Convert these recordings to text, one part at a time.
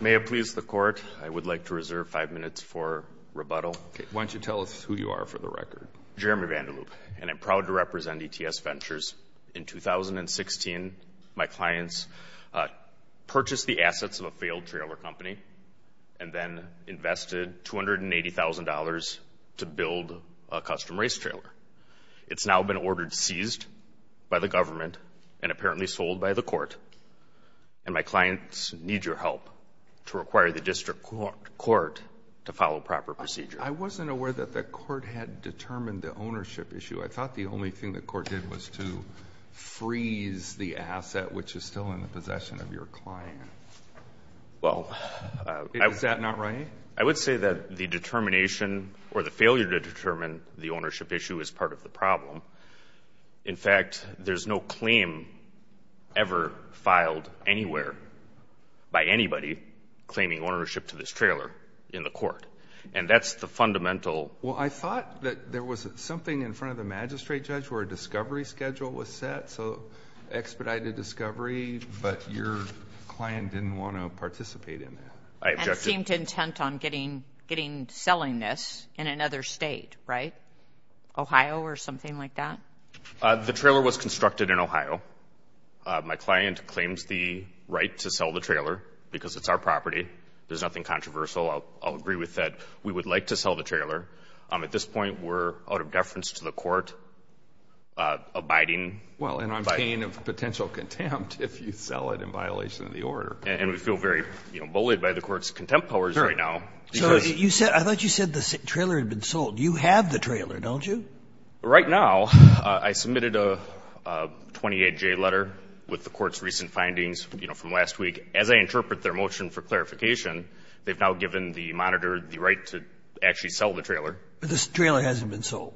May it please the court, I would like to reserve five minutes for rebuttal. Why don't you tell us who you are for the record. Jeremy Vanderloop, and I'm proud to represent E.T.S. Ventures. In 2016, my clients purchased the assets of a failed trailer company and then invested $280,000 to build a custom race trailer. It's now been ordered seized by the government and apparently sold by the court, and my clients need your help to require the district court to follow proper procedures. I wasn't aware that the court had determined the ownership issue. I thought the only thing the court did was to freeze the asset, which is still in the possession of your client. Is that not right? I would say that the determination or the failure to determine the ownership issue is part of the problem. In fact, there's no claim ever filed anywhere by anybody claiming ownership to this trailer in the court, and that's the fundamental. Well, I thought that there was something in front of the magistrate judge where a discovery schedule was set, so expedited discovery, but your client didn't want to participate in that. And seemed intent on selling this in another state, right? Ohio or something like that? The trailer was constructed in Ohio. My client claims the right to sell the trailer because it's our property. There's nothing controversial. I'll agree with that. We would like to sell the trailer. At this point, we're out of deference to the court abiding by the law. Well, and I'm in pain of potential contempt if you sell it in violation of the order. And we feel very, you know, bullied by the court's contempt powers right now. So I thought you said the trailer had been sold. You have the trailer, don't you? Right now, I submitted a 28-J letter with the court's recent findings, you know, from last week. As I interpret their motion for clarification, they've now given the monitor the right to actually sell the trailer. But this trailer hasn't been sold.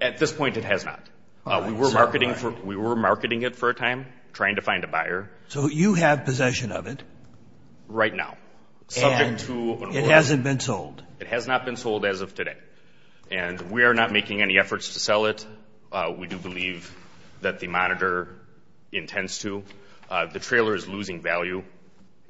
At this point, it has not. We were marketing it for a time, trying to find a buyer. So you have possession of it. Right now. And it hasn't been sold. It has not been sold as of today. And we are not making any efforts to sell it. We do believe that the monitor intends to. The trailer is losing value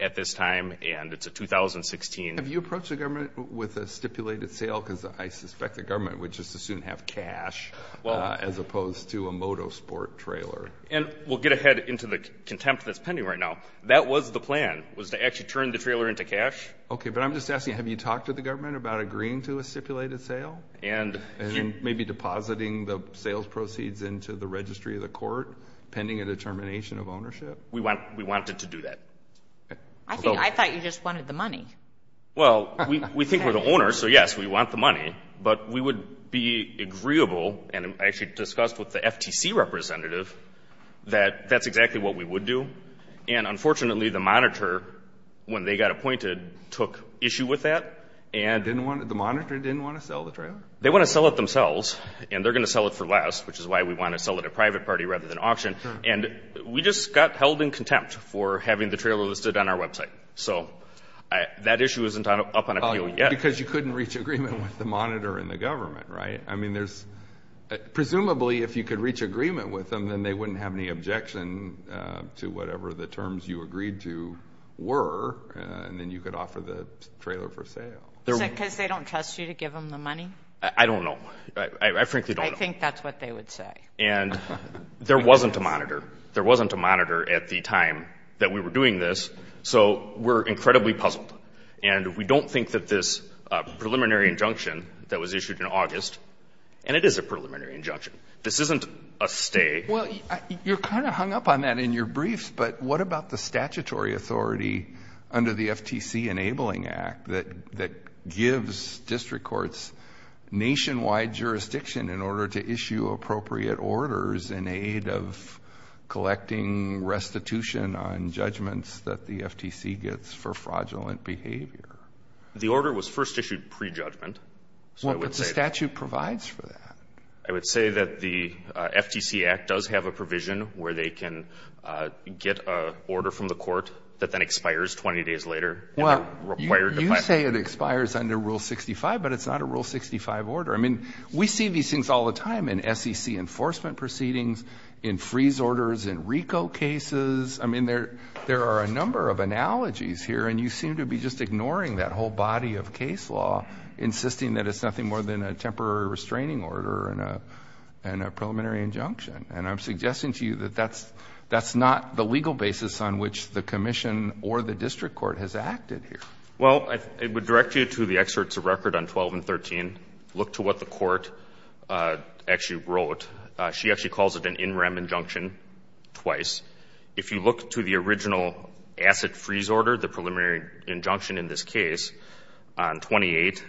at this time, and it's a 2016. Have you approached the government with a stipulated sale? Because I suspect the government would just as soon have cash as opposed to a motorsport trailer. And we'll get ahead into the contempt that's pending right now. That was the plan, was to actually turn the trailer into cash. Okay. But I'm just asking, have you talked to the government about agreeing to a stipulated sale? And maybe depositing the sales proceeds into the registry of the court pending a determination of ownership? We wanted to do that. I thought you just wanted the money. Well, we think we're the owners, so, yes, we want the money. But we would be agreeable, and I actually discussed with the FTC representative that that's exactly what we would do. And, unfortunately, the monitor, when they got appointed, took issue with that. The monitor didn't want to sell the trailer? They want to sell it themselves, and they're going to sell it for less, which is why we want to sell it at private party rather than auction. And we just got held in contempt for having the trailer listed on our website. So that issue isn't up on appeal yet. Because you couldn't reach agreement with the monitor and the government, right? I mean, presumably, if you could reach agreement with them, then they wouldn't have any objection to whatever the terms you agreed to were, and then you could offer the trailer for sale. Is it because they don't trust you to give them the money? I don't know. I frankly don't know. I think that's what they would say. And there wasn't a monitor. There wasn't a monitor at the time that we were doing this, so we're incredibly puzzled. And we don't think that this preliminary injunction that was issued in August, and it is a preliminary injunction. This isn't a stay. Well, you're kind of hung up on that in your briefs, but what about the statutory authority under the FTC Enabling Act that gives district courts nationwide jurisdiction in order to issue appropriate orders in aid of collecting restitution on judgments that the FTC gets for fraudulent behavior? The order was first issued pre-judgment. But the statute provides for that. I would say that the FTC Act does have a provision where they can get an order from the court that then expires 20 days later. Well, you say it expires under Rule 65, but it's not a Rule 65 order. I mean, we see these things all the time in SEC enforcement proceedings, in freeze orders, in RICO cases. I mean, there are a number of analogies here, and you seem to be just ignoring that whole body of case law, insisting that it's nothing more than a temporary restraining order and a preliminary injunction. And I'm suggesting to you that that's not the legal basis on which the commission or the district court has acted here. Well, I would direct you to the excerpts of record on 12 and 13. Look to what the court actually wrote. She actually calls it an in rem injunction twice. If you look to the original asset freeze order, the preliminary injunction in this case on 28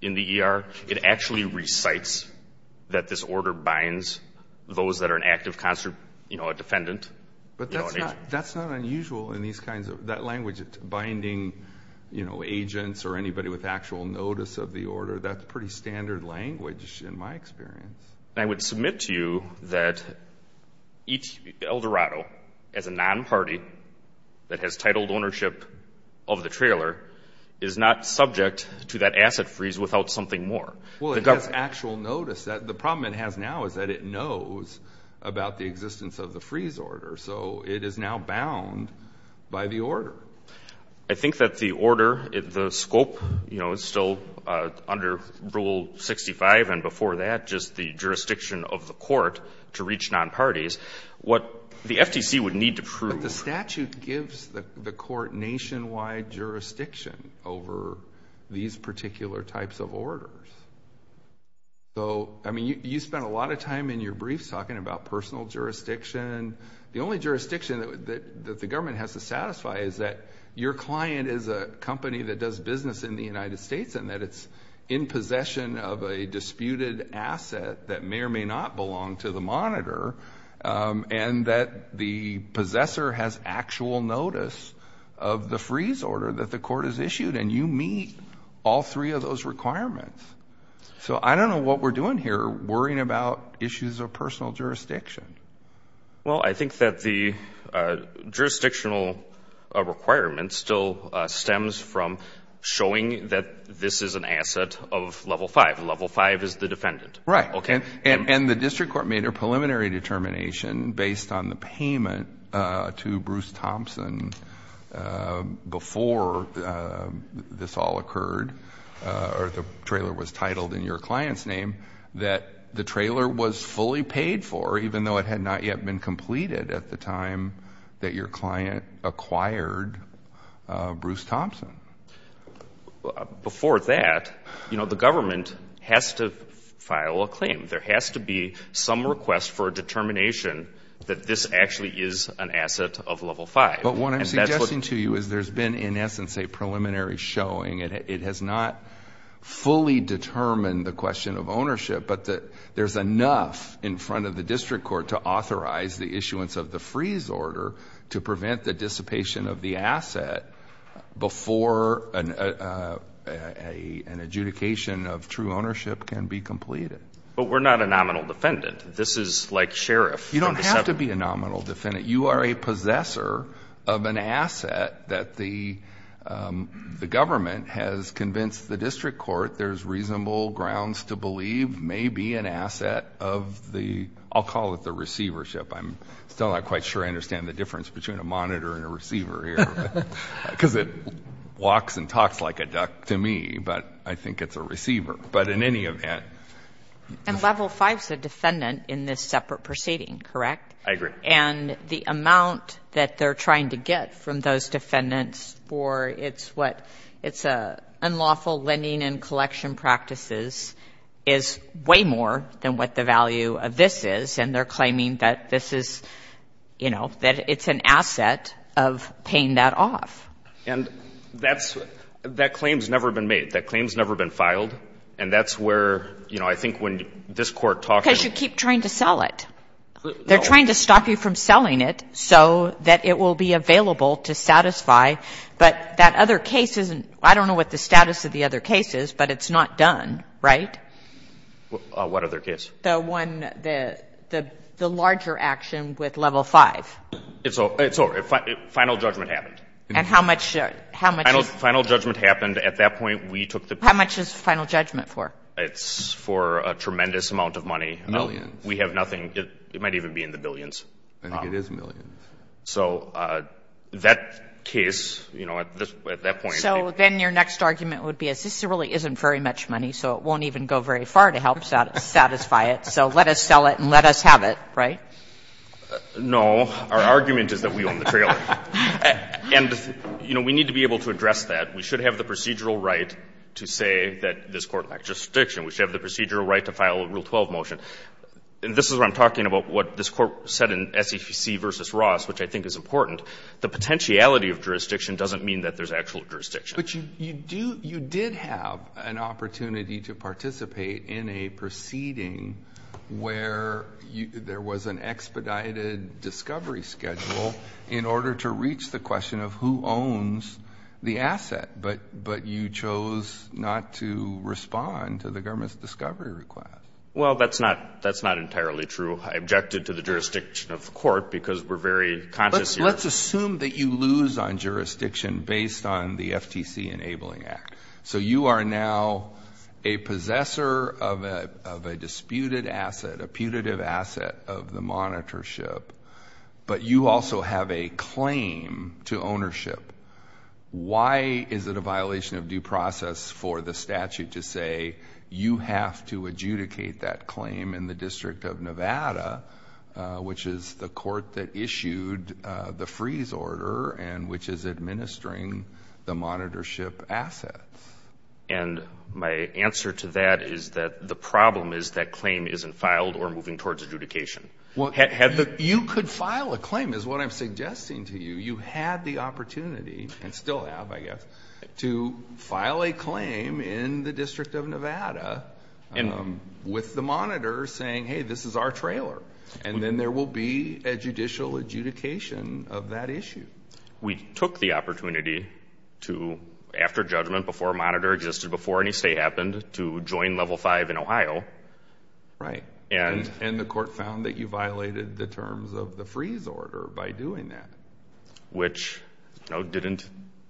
in the ER, it actually recites that this order binds those that are an active constituent, you know, a defendant. But that's not unusual in these kinds of, that language binding, you know, agents or anybody with actual notice of the order. That's pretty standard language in my experience. And I would submit to you that Eldorado, as a non-party that has titled ownership of the trailer, is not subject to that asset freeze without something more. Well, it has actual notice. The problem it has now is that it knows about the existence of the freeze order. So it is now bound by the order. I think that the order, the scope, you know, is still under Rule 65, and before that just the jurisdiction of the court to reach non-parties. What the FTC would need to prove. The statute gives the court nationwide jurisdiction over these particular types of orders. So, I mean, you spent a lot of time in your briefs talking about personal jurisdiction. The only jurisdiction that the government has to satisfy is that your client is a company that does business in the United States and that it's in possession of a disputed asset that may or may not belong to the monitor and that the possessor has actual notice of the freeze order that the court has issued, and you meet all three of those requirements. So I don't know what we're doing here worrying about issues of personal jurisdiction. Well, I think that the jurisdictional requirement still stems from showing that this is an asset of Level 5. Level 5 is the defendant. Right. And the district court made a preliminary determination based on the payment to Bruce Thompson before this all occurred, or the trailer was titled in your client's name, that the trailer was fully paid for, even though it had not yet been completed at the time that your client acquired Bruce Thompson. Before that, you know, the government has to file a claim. There has to be some request for a determination that this actually is an asset of Level 5. But what I'm suggesting to you is there's been, in essence, a preliminary showing. It has not fully determined the question of ownership, but there's enough in front of the district court to authorize the issuance of the freeze order to prevent the dissipation of the asset before an adjudication of true ownership can be completed. But we're not a nominal defendant. This is like sheriff. You don't have to be a nominal defendant. You are a possessor of an asset that the government has convinced the district court there's reasonable grounds to believe may be an asset of the, I'll call it the receivership. I'm still not quite sure I understand the difference between a monitor and a receiver here. Because it walks and talks like a duck to me, but I think it's a receiver. But in any event. And Level 5 is a defendant in this separate proceeding, correct? I agree. And the amount that they're trying to get from those defendants for its unlawful lending and collection practices is way more than what the value of this is, and they're claiming that this is, you know, that it's an asset of paying that off. And that's, that claim's never been made. That claim's never been filed. And that's where, you know, I think when this Court talked about. Because you keep trying to sell it. They're trying to stop you from selling it so that it will be available to satisfy. But that other case isn't, I don't know what the status of the other case is, but it's not done, right? What other case? The one, the larger action with Level 5. It's over. It's over. Final judgment happened. And how much? Final judgment happened. At that point, we took the. How much is final judgment for? It's for a tremendous amount of money. Millions. We have nothing. It might even be in the billions. I think it is millions. So that case, you know, at that point. So then your next argument would be this really isn't very much money, so it won't even go very far to help satisfy it. So let us sell it and let us have it, right? No. Our argument is that we own the trailer. And, you know, we need to be able to address that. We should have the procedural right to say that this Court lacks jurisdiction. We should have the procedural right to file a Rule 12 motion. And this is where I'm talking about what this Court said in SEC v. Ross, which I think is important. The potentiality of jurisdiction doesn't mean that there's actual jurisdiction. But you did have an opportunity to participate in a proceeding where there was an expedited discovery schedule in order to reach the question of who owns the asset. But you chose not to respond to the government's discovery request. Well, that's not entirely true. I objected to the jurisdiction of the Court because we're very conscious here. Let's assume that you lose on jurisdiction based on the FTC Enabling Act. So you are now a possessor of a disputed asset, a putative asset of the monitorship, but you also have a claim to ownership. Why is it a violation of due process for the statute to say you have to adjudicate that claim in the District of Nevada, which is the Court that issued the freeze order and which is administering the monitorship assets? And my answer to that is that the problem is that claim isn't filed or moving towards adjudication. You could file a claim is what I'm suggesting to you. You had the opportunity, and still have I guess, to file a claim in the District of Nevada saying, hey, this is our trailer. And then there will be a judicial adjudication of that issue. We took the opportunity to, after judgment, before a monitor existed, before any stay happened, to join Level 5 in Ohio. Right. And the Court found that you violated the terms of the freeze order by doing that. Which didn't,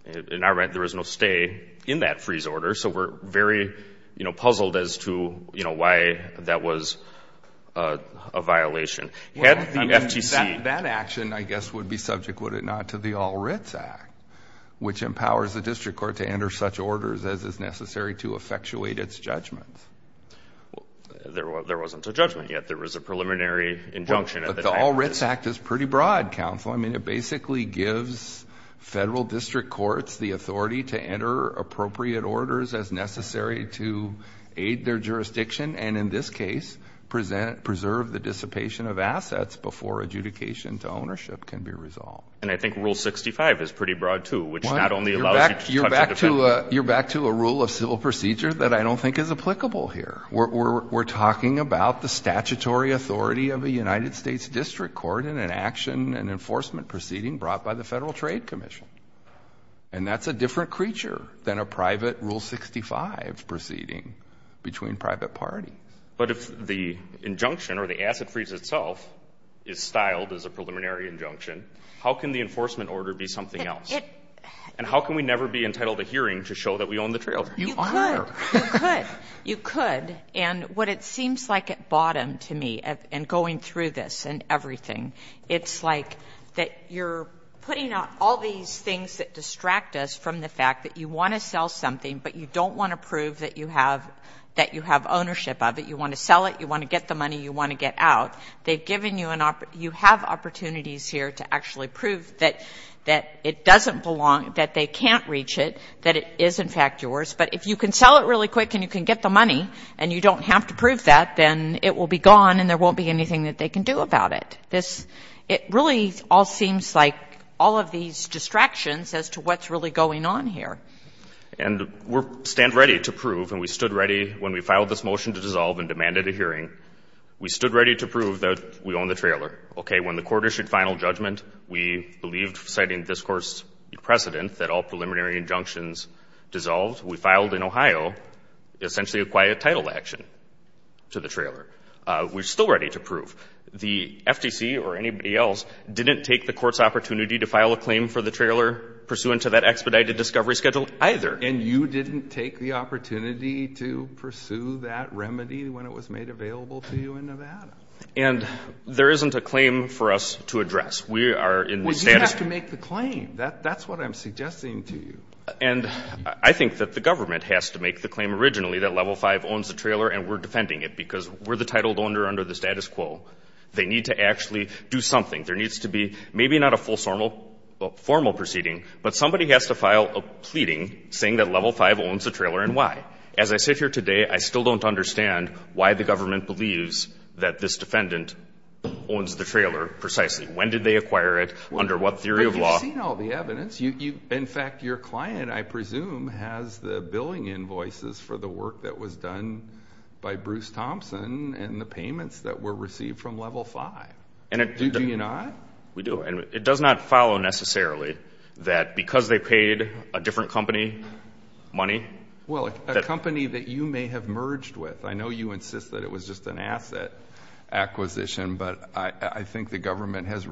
in our rent, there was no stay in that freeze order. So we're very, you know, puzzled as to, you know, why that was a violation. Had the FTC... That action, I guess, would be subject, would it not, to the All Writs Act, which empowers the District Court to enter such orders as is necessary to effectuate its judgment. There wasn't a judgment yet. There was a preliminary injunction at the time. But the All Writs Act is pretty broad, counsel. I mean, it basically gives Federal District Courts the authority to enter appropriate orders as necessary to aid their jurisdiction and, in this case, preserve the dissipation of assets before adjudication to ownership can be resolved. And I think Rule 65 is pretty broad, too, which not only allows you to... You're back to a rule of civil procedure that I don't think is applicable here. We're talking about the statutory authority of a United States District Court in an action and enforcement proceeding brought by the Federal Trade Commission. And that's a different creature than a private Rule 65 proceeding between private parties. But if the injunction or the asset freeze itself is styled as a preliminary injunction, how can the enforcement order be something else? And how can we never be entitled to hearing to show that we own the trails? You could. You could. You could. And what it seems like at bottom to me, and going through this and everything, it's like that you're putting out all these things that distract us from the fact that you want to sell something, but you don't want to prove that you have ownership of it. You want to sell it. You want to get the money. You want to get out. They've given you an... You have opportunities here to actually prove that it doesn't belong, that they can't reach it, that it is, in fact, yours. But if you can sell it really quick and you can get the money and you don't have to prove that, then it will be gone and there won't be anything that they can do about it. This — it really all seems like all of these distractions as to what's really going on here. And we stand ready to prove, and we stood ready when we filed this motion to dissolve and demanded a hearing, we stood ready to prove that we own the trailer. Okay? When the Court issued final judgment, we believed, citing this Court's precedent, that all preliminary injunctions dissolved. We filed in Ohio essentially a quiet title action to the trailer. We're still ready to prove. The FTC or anybody else didn't take the Court's opportunity to file a claim for the trailer pursuant to that expedited discovery schedule either. And you didn't take the opportunity to pursue that remedy when it was made available to you in Nevada? And there isn't a claim for us to address. We are in the status... Well, you have to make the claim. That's what I'm suggesting to you. And I think that the government has to make the claim originally that Level 5 owns the trailer and we're defending it because we're the titled owner under the status quo. They need to actually do something. There needs to be maybe not a full formal proceeding, but somebody has to file a pleading saying that Level 5 owns the trailer and why. As I sit here today, I still don't understand why the government believes that this When did they acquire it? Under what theory of law? You've seen all the evidence. In fact, your client, I presume, has the billing invoices for the work that was done by Bruce Thompson and the payments that were received from Level 5. Did you not? We do. And it does not follow necessarily that because they paid a different company money... Well, a company that you may have merged with. I know you insist that it was just an asset acquisition, but I think the government has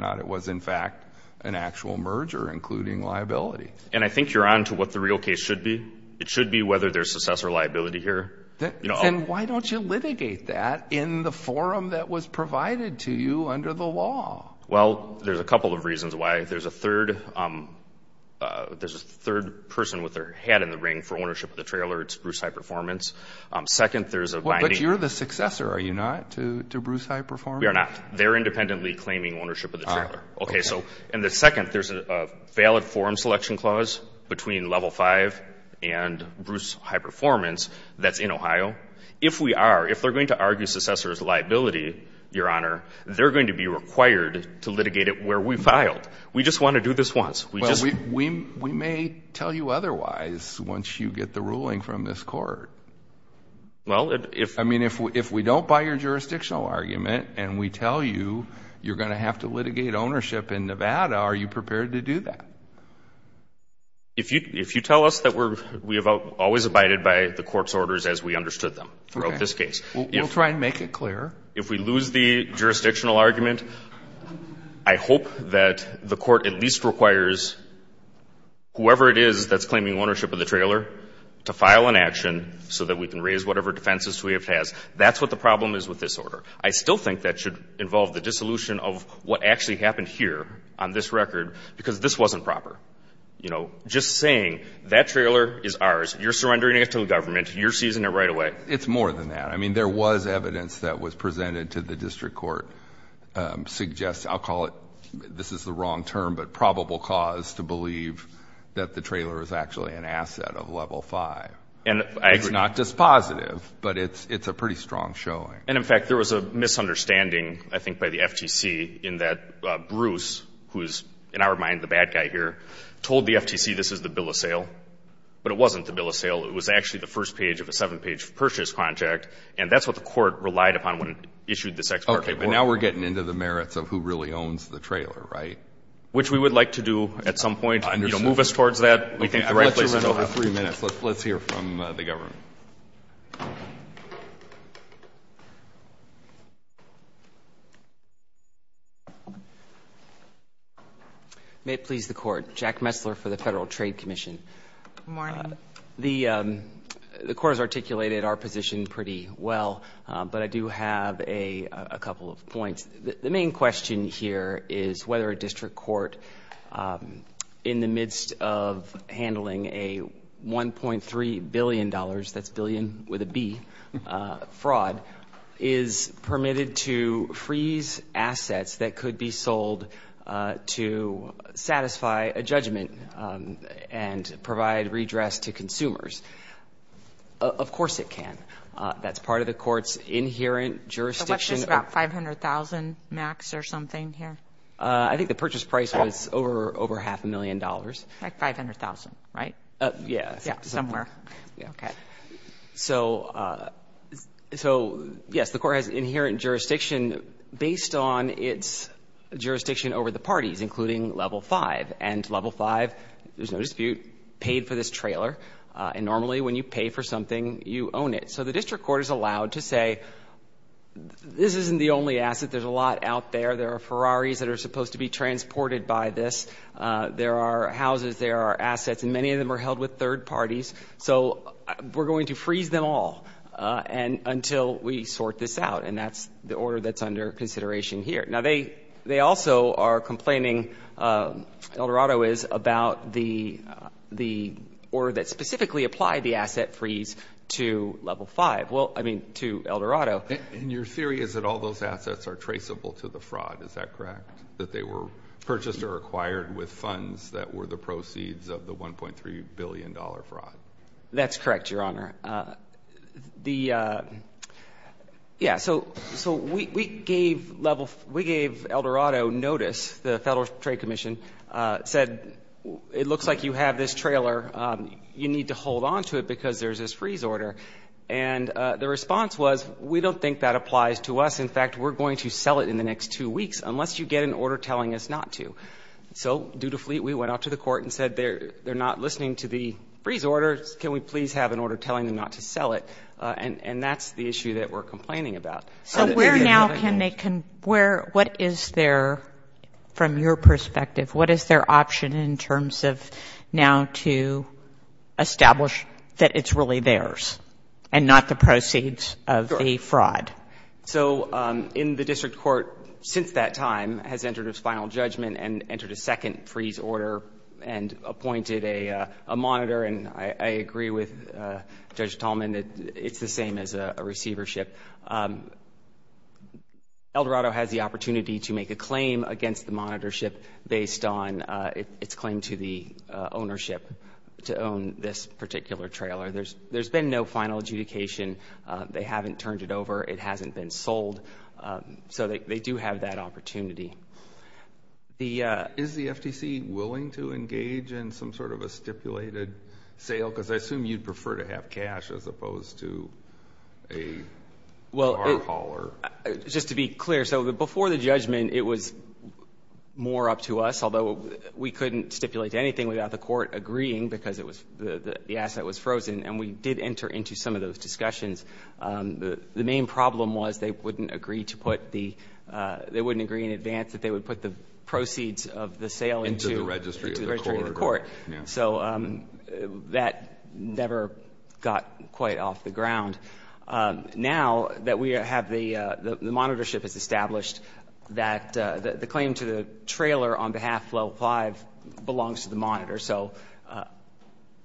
that it was in fact an actual merger, including liability. And I think you're on to what the real case should be. It should be whether there's successor liability here. Then why don't you litigate that in the forum that was provided to you under the law? Well, there's a couple of reasons why. There's a third person with their head in the ring for ownership of the trailer. It's Bruce Hyperformance. Second, there's a binding... But you're the successor, are you not, to Bruce Hyperformance? We are not. They're independently claiming ownership of the trailer. Okay. So, and the second, there's a valid forum selection clause between Level 5 and Bruce Hyperformance that's in Ohio. If we are, if they're going to argue successor's liability, Your Honor, they're going to be required to litigate it where we filed. We just want to do this once. We just... Well, we may tell you otherwise once you get the ruling from this court. Well, if... you're going to have to litigate ownership in Nevada, are you prepared to do that? If you tell us that we have always abided by the court's orders as we understood them throughout this case... Okay. We'll try and make it clear. If we lose the jurisdictional argument, I hope that the court at least requires whoever it is that's claiming ownership of the trailer to file an action so that we can raise whatever defenses we have to ask. That's what the problem is with this order. I still think that should involve the dissolution of what actually happened here on this record because this wasn't proper. You know, just saying that trailer is ours, you're surrendering it to the government, you're seizing it right away. It's more than that. I mean, there was evidence that was presented to the district court suggests, I'll call it, this is the wrong term, but probable cause to believe that the trailer is actually an asset of Level 5. And I agree. It's not just positive, but it's a pretty strong showing. And, in fact, there was a misunderstanding, I think, by the FTC in that Bruce, who is in our mind the bad guy here, told the FTC this is the bill of sale, but it wasn't the bill of sale. It was actually the first page of a seven-page purchase contract, and that's what the court relied upon when it issued this ex parte. Okay. But now we're getting into the merits of who really owns the trailer, right? Which we would like to do at some point. You know, move us towards that. Okay. I've let you run over three minutes. Let's hear from the government. May it please the court. Jack Messler for the Federal Trade Commission. Good morning. The court has articulated our position pretty well, but I do have a couple of points. The main question here is whether a district court, in the midst of handling a $1.3 billion that's billion with a B fraud, is permitted to freeze assets that could be sold to satisfy a judgment and provide redress to consumers. Of course it can. That's part of the court's inherent jurisdiction. So what's this, about $500,000 max or something here? I think the purchase price was over half a million dollars. Like $500,000, right? Yes. Somewhere. Okay. So, yes, the court has inherent jurisdiction based on its jurisdiction over the parties, including level 5. And level 5, there's no dispute, paid for this trailer. And normally when you pay for something, you own it. So the district court is allowed to say this isn't the only asset. There's a lot out there. There are Ferraris that are supposed to be transported by this. There are houses. There are assets. And many of them are held with third parties. So we're going to freeze them all until we sort this out. And that's the order that's under consideration here. Now, they also are complaining, Eldorado is, about the order that specifically applied the asset freeze to level 5. Well, I mean, to Eldorado. And your theory is that all those assets are traceable to the fraud. Is that correct? That they were purchased or acquired with funds that were the proceeds of the $1.3 billion fraud. That's correct, Your Honor. The, yeah, so we gave Eldorado notice. The Federal Trade Commission said, it looks like you have this trailer. You need to hold on to it because there's this freeze order. And the response was, we don't think that applies to us. In fact, we're going to sell it in the next two weeks. Unless you get an order telling us not to. So, dutifully, we went out to the court and said, they're not listening to the freeze order. Can we please have an order telling them not to sell it? And that's the issue that we're complaining about. So where now can they, where, what is their, from your perspective, what is their option in terms of now to establish that it's really theirs? And not the proceeds of the fraud? So, in the district court since that time has entered its final judgment and entered a second freeze order and appointed a monitor. And I agree with Judge Tallman that it's the same as a receivership. Eldorado has the opportunity to make a claim against the monitorship based on its claim to the ownership, to own this particular trailer. There's been no final adjudication. They haven't turned it over. It hasn't been sold. So they do have that opportunity. Is the FTC willing to engage in some sort of a stipulated sale? Because I assume you'd prefer to have cash as opposed to a car hauler. Well, just to be clear, so before the judgment it was more up to us, although we couldn't stipulate anything without the court agreeing because the asset was frozen. And we did enter into some of those discussions. The main problem was they wouldn't agree to put the ‑‑they wouldn't agree in advance that they would put the proceeds of the sale into the registry of the court. So that never got quite off the ground. Now that we have the ‑‑ the monitorship has established that the claim to the trailer on behalf of Level 5 belongs to the monitors. So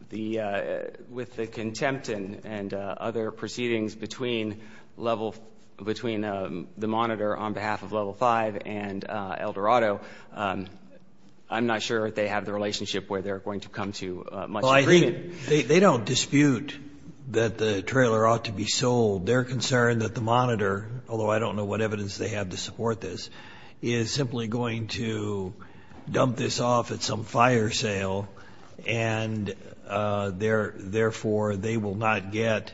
with the contempt and other proceedings between Level ‑‑ between the monitor on behalf of Level 5 and Eldorado, I'm not sure they have the relationship where they're going to come to much agreement. They don't dispute that the trailer ought to be sold. They're concerned that the monitor, although I don't know what evidence they have to support this, is simply going to dump this off at some fire sale and therefore they will not get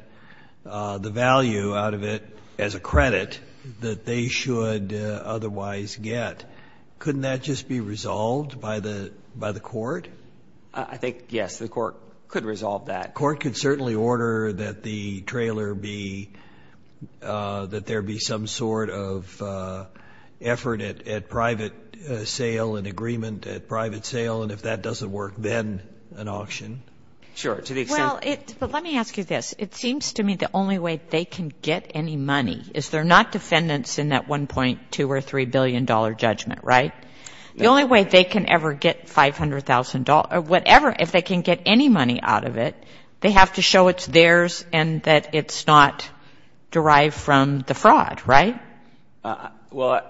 the value out of it as a credit that they should otherwise get. Couldn't that just be resolved by the court? I think, yes, the court could resolve that. The court could certainly order that the trailer be ‑‑ that there be some sort of effort at private sale and agreement at private sale, and if that doesn't work, then an auction. Sure, to the extent ‑‑ Well, let me ask you this. It seems to me the only way they can get any money is they're not defendants in that $1.2 or $3 billion judgment, right? The only way they can ever get $500,000 or whatever, if they can get any money out of it, they have to show it's theirs and that it's not derived from the fraud, right? Well,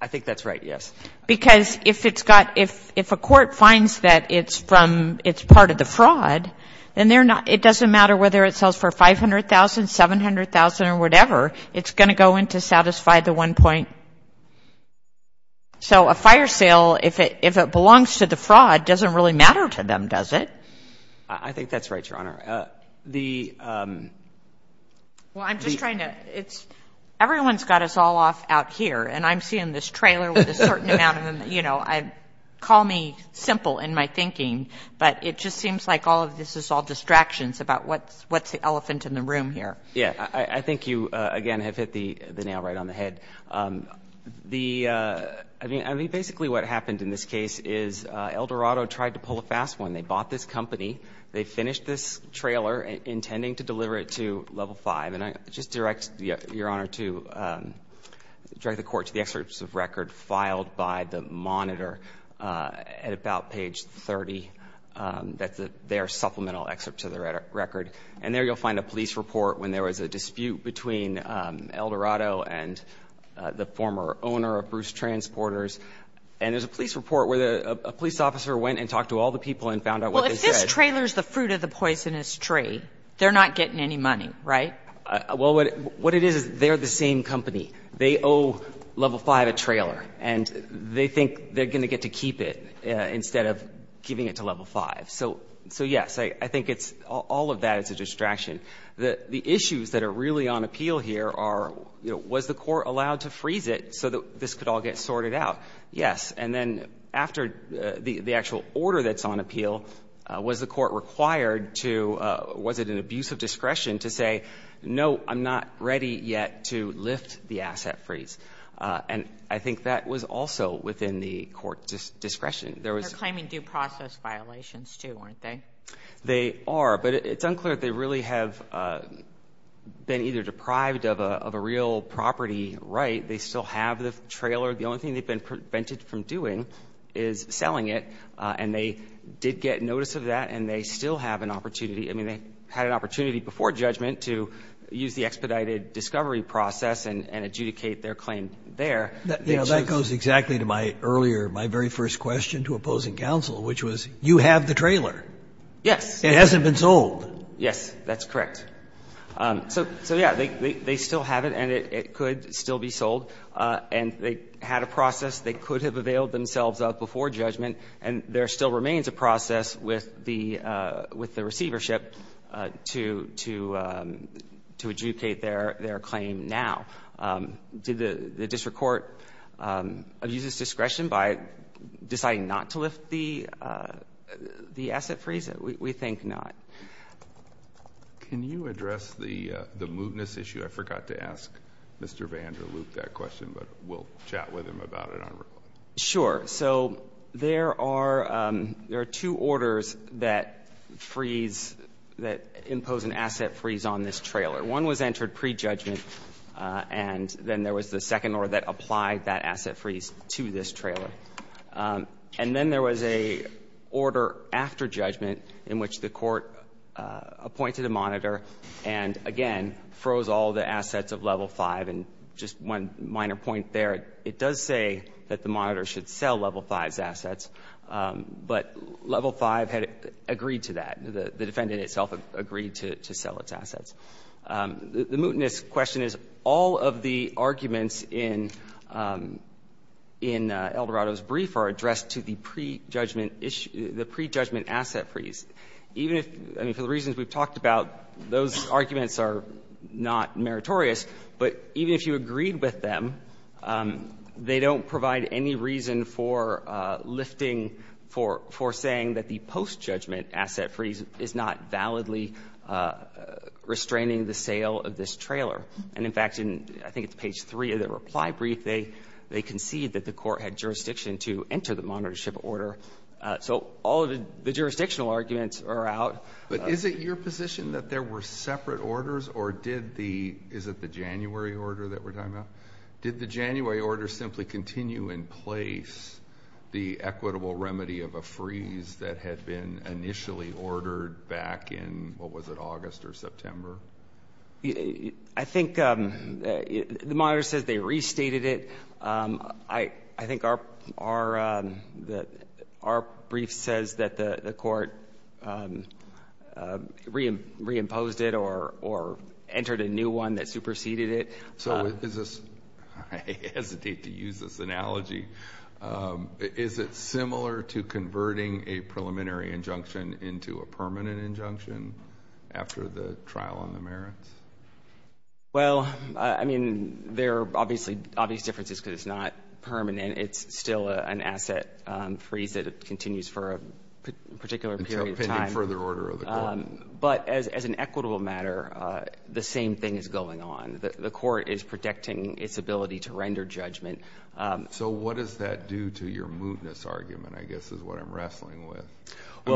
I think that's right, yes. Because if it's got ‑‑ if a court finds that it's from ‑‑ it's part of the fraud, then they're not ‑‑ it doesn't matter whether it sells for $500,000, $700,000 or whatever, it's going to go in to satisfy the one point. So a fire sale, if it belongs to the fraud, doesn't really matter to them, does it? I think that's right, Your Honor. The ‑‑ Well, I'm just trying to ‑‑ it's ‑‑ everyone's got us all off out here, and I'm seeing this trailer with a certain amount of them, you know, call me simple in my thinking, but it just seems like all of this is all distractions about what's the elephant in the room here. Yeah, I think you, again, have hit the nail right on the head. The ‑‑ I mean, basically what happened in this case is Eldorado tried to pull a fast one. They bought this company. They finished this trailer intending to deliver it to level five, and I just direct, Your Honor, to ‑‑ direct the court to the excerpts of record filed by the monitor at about page 30. That's their supplemental excerpt to the record. And there you'll find a police report when there was a dispute between Eldorado and the former owner of Bruce Transporters, and there's a police report where a police officer went and talked to all the people and found out what they said. Well, if this trailer's the fruit of the poisonous tree, they're not getting any money, right? Well, what it is is they're the same company. They owe level five a trailer, and they think they're going to get to keep it instead of giving it to level five. So, yes, I think it's ‑‑ all of that is a distraction. The issues that are really on appeal here are, you know, was the court allowed to freeze it so that this could all get sorted out? Yes, and then after the actual order that's on appeal, was the court required to ‑‑ was it an abuse of discretion to say, no, I'm not ready yet to lift the asset freeze? And I think that was also within the court's discretion. They're claiming due process violations, too, aren't they? They are, but it's unclear if they really have been either deprived of a real property right. They still have the trailer. The only thing they've been prevented from doing is selling it, and they did get notice of that, and they still have an opportunity. I mean, they had an opportunity before judgment to use the expedited discovery process and adjudicate their claim there. That goes exactly to my earlier, my very first question to opposing counsel, which was, you have the trailer. Yes. It hasn't been sold. Yes, that's correct. So, yeah, they still have it, and it could still be sold. And they had a process. They could have availed themselves of it before judgment, and there still remains a process with the ‑‑ with the receivership to adjudicate their claim now. Did the district court abuse its discretion by deciding not to lift the asset freeze? We think not. Can you address the mootness issue? I forgot to ask Mr. Vanderloop that question, but we'll chat with him about it on record. Sure. So there are two orders that freeze, that impose an asset freeze on this trailer. One was entered prejudgment, and then there was the second order that applied that asset freeze to this trailer. And then there was a order after judgment in which the court appointed a monitor and, again, froze all the assets of Level 5. And just one minor point there, it does say that the monitor should sell Level 5's assets, but Level 5 had agreed to that. The defendant itself agreed to sell its assets. The mootness question is, all of the arguments in Eldorado's brief are addressed to the prejudgment ‑‑ the prejudgment asset freeze. Even if ‑‑ I mean, for the reasons we've talked about, those arguments are not meritorious, but even if you agreed with them, they don't provide any reason for lifting for saying that the postjudgment asset freeze is not validly restraining the sale of this trailer. And, in fact, I think it's page 3 of the reply brief, they concede that the court had jurisdiction to enter the monitorship order. So all of the jurisdictional arguments are out. But is it your position that there were separate orders, or did the ‑‑ is it the January order that we're talking about? Did the January order simply continue in place the equitable remedy of a freeze that had been initially ordered back in, what was it, August or September? I think the monitor says they restated it. I think our brief says that the court reimposed it or entered a new one that superseded it. So is this ‑‑ I hesitate to use this analogy. Is it similar to converting a preliminary injunction into a permanent injunction after the trial on the merits? Well, I mean, there are obviously differences because it's not permanent. It's still an asset freeze that continues for a particular period of time. Depending on further order of the court. But as an equitable matter, the same thing is going on. The court is protecting its ability to render judgment. So what does that do to your mootness argument, I guess, is what I'm wrestling with. We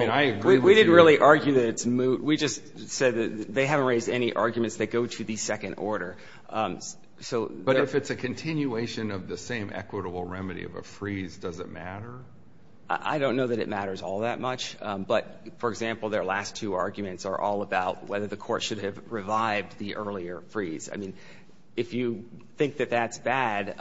didn't really argue that it's moot. We just said that they haven't raised any arguments that go to the second order. But if it's a continuation of the same equitable remedy of a freeze, does it matter? I don't know that it matters all that much. But, for example, their last two arguments are all about whether the court should have I mean, if you think that that's bad,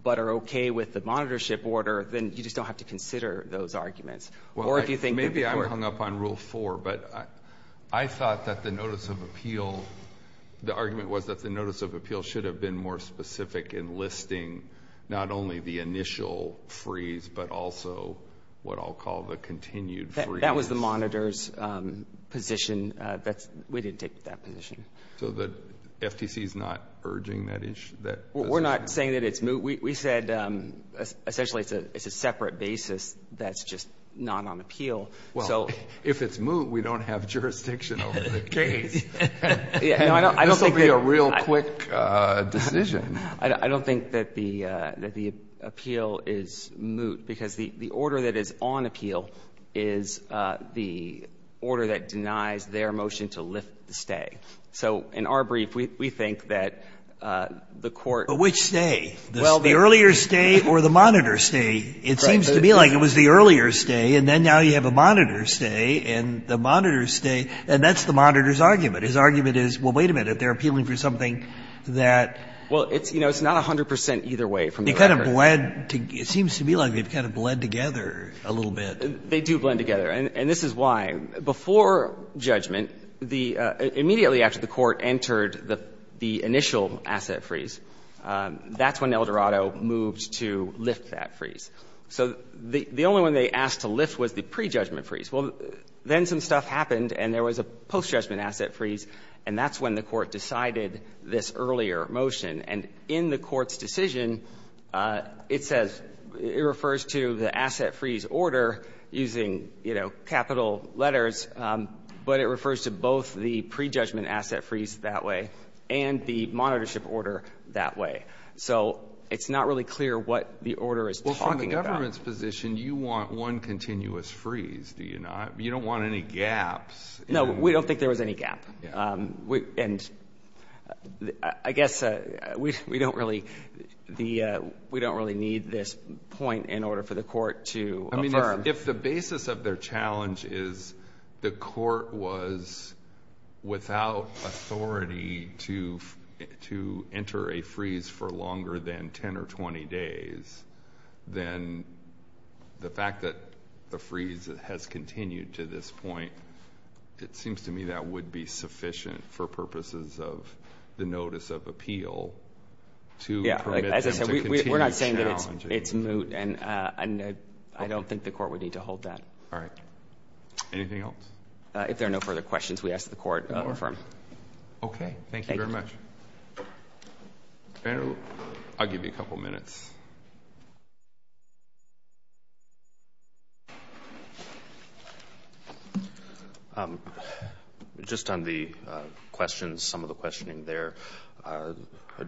but are okay with the monitorship order, then you just don't have to consider those arguments. Maybe I'm hung up on rule four, but I thought that the notice of appeal, the argument was that the notice of appeal should have been more specific in listing not only the initial freeze, but also what I'll call the continued freeze. That was the monitor's position. We didn't take that position. So the FTC is not urging that issue? We're not saying that it's moot. We said essentially it's a separate basis that's just not on appeal. Well, if it's moot, we don't have jurisdiction over the case. This will be a real quick decision. I don't think that the appeal is moot because the order that is on appeal is the order that denies their motion to lift the stay. So in our brief, we think that the court But which stay? The earlier stay or the monitor stay? It seems to me like it was the earlier stay, and then now you have a monitor stay, and the monitor stay, and that's the monitor's argument. His argument is, well, wait a minute. They're appealing for something that Well, it's not 100 percent either way from the record. They kind of blend. It seems to me like they've kind of blend together a little bit. They do blend together, and this is why. Before judgment, immediately after the court entered the initial asset freeze, that's when El Dorado moved to lift that freeze. So the only one they asked to lift was the prejudgment freeze. Well, then some stuff happened, and there was a post-judgment asset freeze, and that's when the court decided this earlier motion. And in the court's decision, it says, it refers to the asset freeze order using, you know, capital letters, but it refers to both the prejudgment asset freeze that way and the monitorship order that way. So it's not really clear what the order is talking about. Well, from the government's position, you want one continuous freeze, do you not? You don't want any gaps. No, we don't think there was any gap. And I guess we don't really need this point in order for the court to affirm. I mean, if the basis of their challenge is the court was without authority to enter a freeze for longer than 10 or 20 days, then the fact that the freeze has continued to this point, it seems to me that would be sufficient for purposes of the notice of appeal to permit them to continue challenging. I don't think the court would need to hold that. All right. Anything else? If there are no further questions, we ask the court to affirm. Okay. Thank you very much. I'll give you a couple minutes. Just on the questions, some of the questioning there,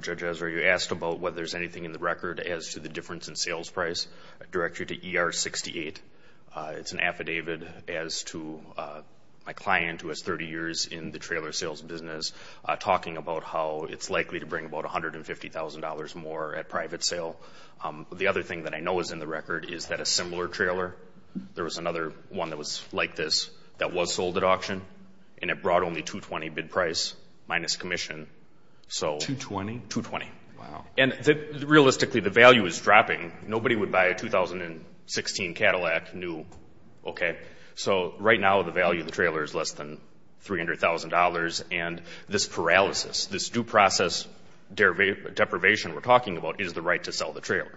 Judge Ezra, you asked about whether there's anything in the record as to the difference in sales price. I direct you to ER 68. It's an affidavit as to my client, who has 30 years in the trailer sales business, talking about how it's likely to bring about $150,000 more at private sale. The other thing that I know is in the record is that a similar trailer, there was another one that was like this that was sold at auction, and it brought only 220 bid price minus commission. 220? 220. Wow. And realistically, the value is dropping. Nobody would buy a 2016 Cadillac new, okay? So right now the value of the trailer is less than $300,000, and this paralysis, this due process deprivation we're talking about is the right to sell the trailer.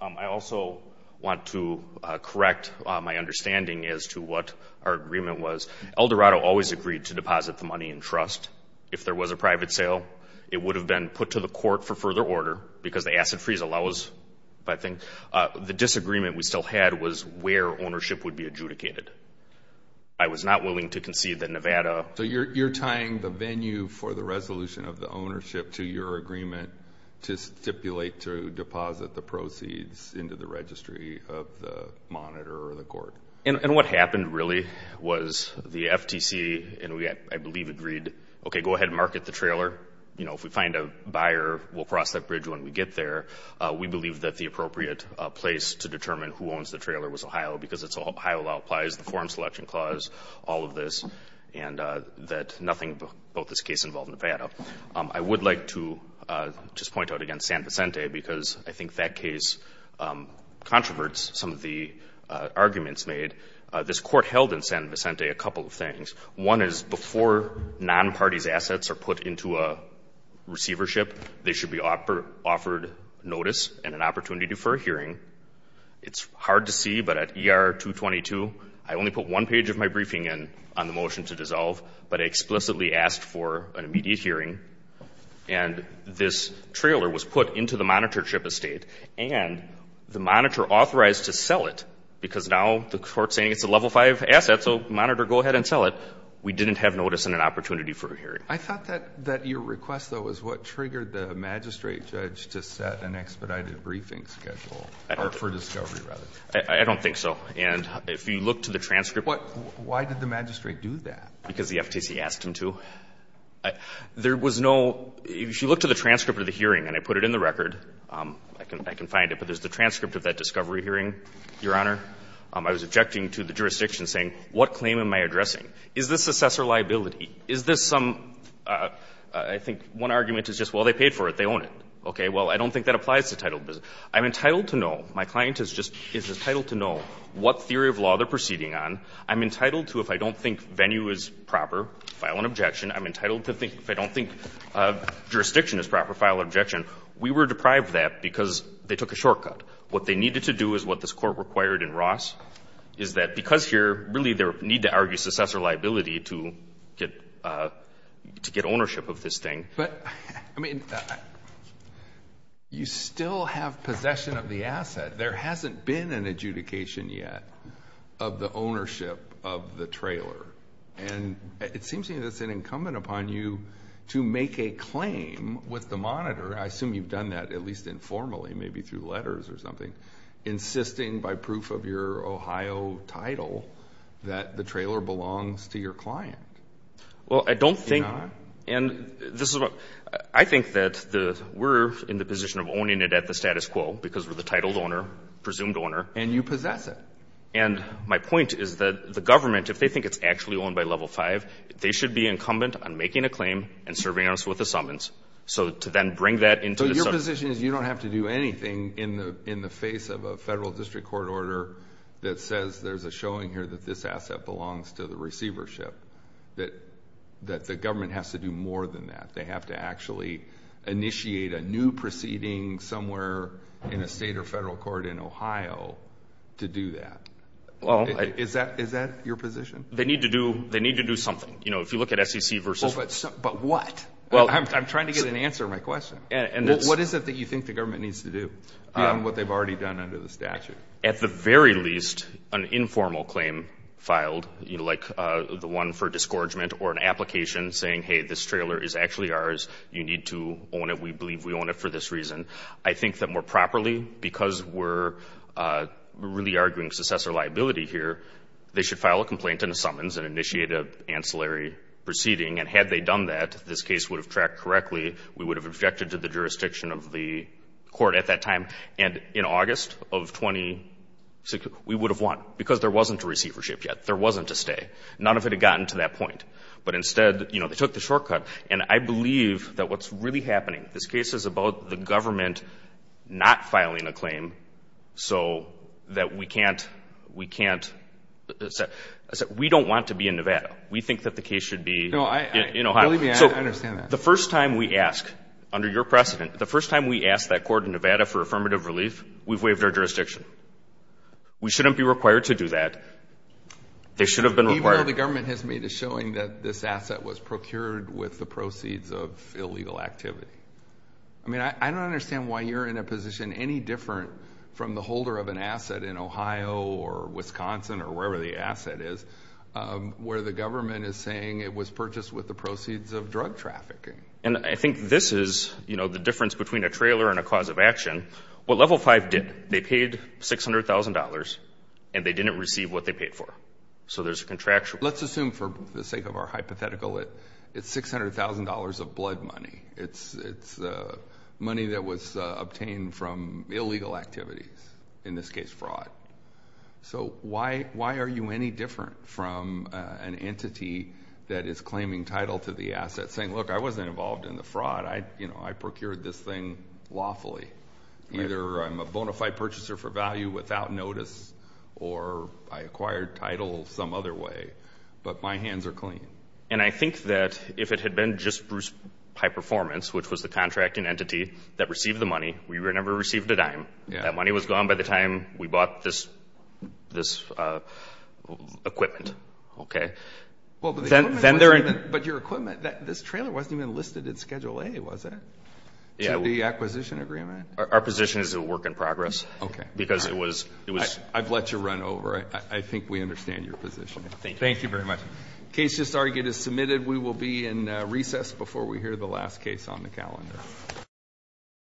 I also want to correct my understanding as to what our agreement was. Eldorado always agreed to deposit the money in trust. If there was a private sale, it would have been put to the court for further order because the acid freeze allows, I think. The disagreement we still had was where ownership would be adjudicated. I was not willing to concede that Nevada. So you're tying the venue for the resolution of the ownership to your agreement to stipulate to deposit the proceeds into the registry of the monitor or the court. And what happened really was the FTC, and we, I believe, agreed, okay, go ahead and market the trailer. You know, if we find a buyer, we'll cross that bridge when we get there. We believe that the appropriate place to determine who owns the trailer was Ohio because it's Ohio law applies the form selection clause, all of this, and that nothing about this case involved Nevada. I would like to just point out again San Vicente because I think that case controverts some of the arguments made. This court held in San Vicente a couple of things. One is before non-party's assets are put into a receivership, they should be offered notice and an opportunity for a hearing. It's hard to see, but at ER-222, I only put one page of my briefing in on the motion to dissolve, but I explicitly asked for an immediate hearing, and this trailer was put into the monitor ship estate, and the monitor authorized to sell it because now the court's saying it's a level 5 asset, so monitor, go ahead and sell it. We didn't have notice and an opportunity for a hearing. I thought that your request, though, is what triggered the magistrate judge to set an expedited briefing schedule, or for discovery, rather. I don't think so. And if you look to the transcript. Why did the magistrate do that? Because the FTC asked him to. There was no, if you look to the transcript of the hearing, and I put it in the record. I can find it, but there's the transcript of that discovery hearing, Your Honor. I was objecting to the jurisdiction saying, what claim am I addressing? Is this assessor liability? Is this some, I think one argument is just, well, they paid for it, they own it. Okay. Well, I don't think that applies to title business. I'm entitled to know, my client is entitled to know what theory of law they're proceeding on. I'm entitled to, if I don't think venue is proper, file an objection. I'm entitled to think, if I don't think jurisdiction is proper, file an objection. We were deprived of that because they took a shortcut. What they needed to do is what this court required in Ross, is that because here, really they need to argue assessor liability to get ownership of this thing. But, I mean, you still have possession of the asset. There hasn't been an adjudication yet of the ownership of the trailer. And it seems to me that's an incumbent upon you to make a claim with the monitor, I assume you've done that at least informally, maybe through letters or something, insisting by proof of your Ohio title that the trailer belongs to your client. Well, I don't think. Do you not? And this is what, I think that we're in the position of owning it at the status quo because we're the titled owner, presumed owner. And you possess it. And my point is that the government, if they think it's actually owned by level five, they should be incumbent on making a claim and serving us with assentments. So to then bring that into the subject. So your position is you don't have to do anything in the face of a federal district court order that says there's a showing here that this asset belongs to the receivership, that the government has to do more than that. They have to actually initiate a new proceeding somewhere in a state or federal court in Ohio to do that. Is that your position? They need to do something. You know, if you look at SEC versus. But what? I'm trying to get an answer to my question. What is it that you think the government needs to do beyond what they've already done under the statute? At the very least, an informal claim filed, like the one for discouragement or an application saying, hey, this trailer is actually ours. You need to own it. We believe we own it for this reason. I think that more properly, because we're really arguing successor liability here, they should file a complaint and a summons and initiate an ancillary proceeding. And had they done that, this case would have tracked correctly. We would have objected to the jurisdiction of the court at that time. And in August of 2016, we would have won, because there wasn't a receivership yet. There wasn't a stay. None of it had gotten to that point. But instead, you know, they took the shortcut. And I believe that what's really happening, this case is about the government not filing a claim so that we can't, we don't want to be in Nevada. We think that the case should be in Ohio. Believe me, I understand that. The first time we ask, under your precedent, the first time we ask that court in Nevada for affirmative relief, we've waived our jurisdiction. We shouldn't be required to do that. They should have been required. Even though the government has made a showing that this asset was procured with the proceeds of illegal activity. I mean, I don't understand why you're in a position any different from the holder of an asset in Ohio or Wisconsin or wherever the asset is, where the government is saying it was purchased with the proceeds of drug trafficking. And I think this is, you know, the difference between a trailer and a cause of action. What Level 5 did, they paid $600,000, and they didn't receive what they paid for. So there's a contractual. Let's assume, for the sake of our hypothetical, it's $600,000 of blood money. It's money that was obtained from illegal activities, in this case fraud. So why are you any different from an entity that is claiming title to the asset, saying, Look, I wasn't involved in the fraud. You know, I procured this thing lawfully. Either I'm a bona fide purchaser for value without notice, or I acquired title some other way. But my hands are clean. And I think that if it had been just Bruce Pie Performance, which was the contracting entity that received the money, we would have never received a dime. That money was gone by the time we bought this equipment. Okay? But your equipment, this trailer wasn't even listed in Schedule A, was it? To the acquisition agreement? Our position is it will work in progress. Okay. Because it was... I've let you run over. I think we understand your position. Thank you. Thank you very much. Case just argued is submitted. We will be in recess before we hear the last case on the calendar.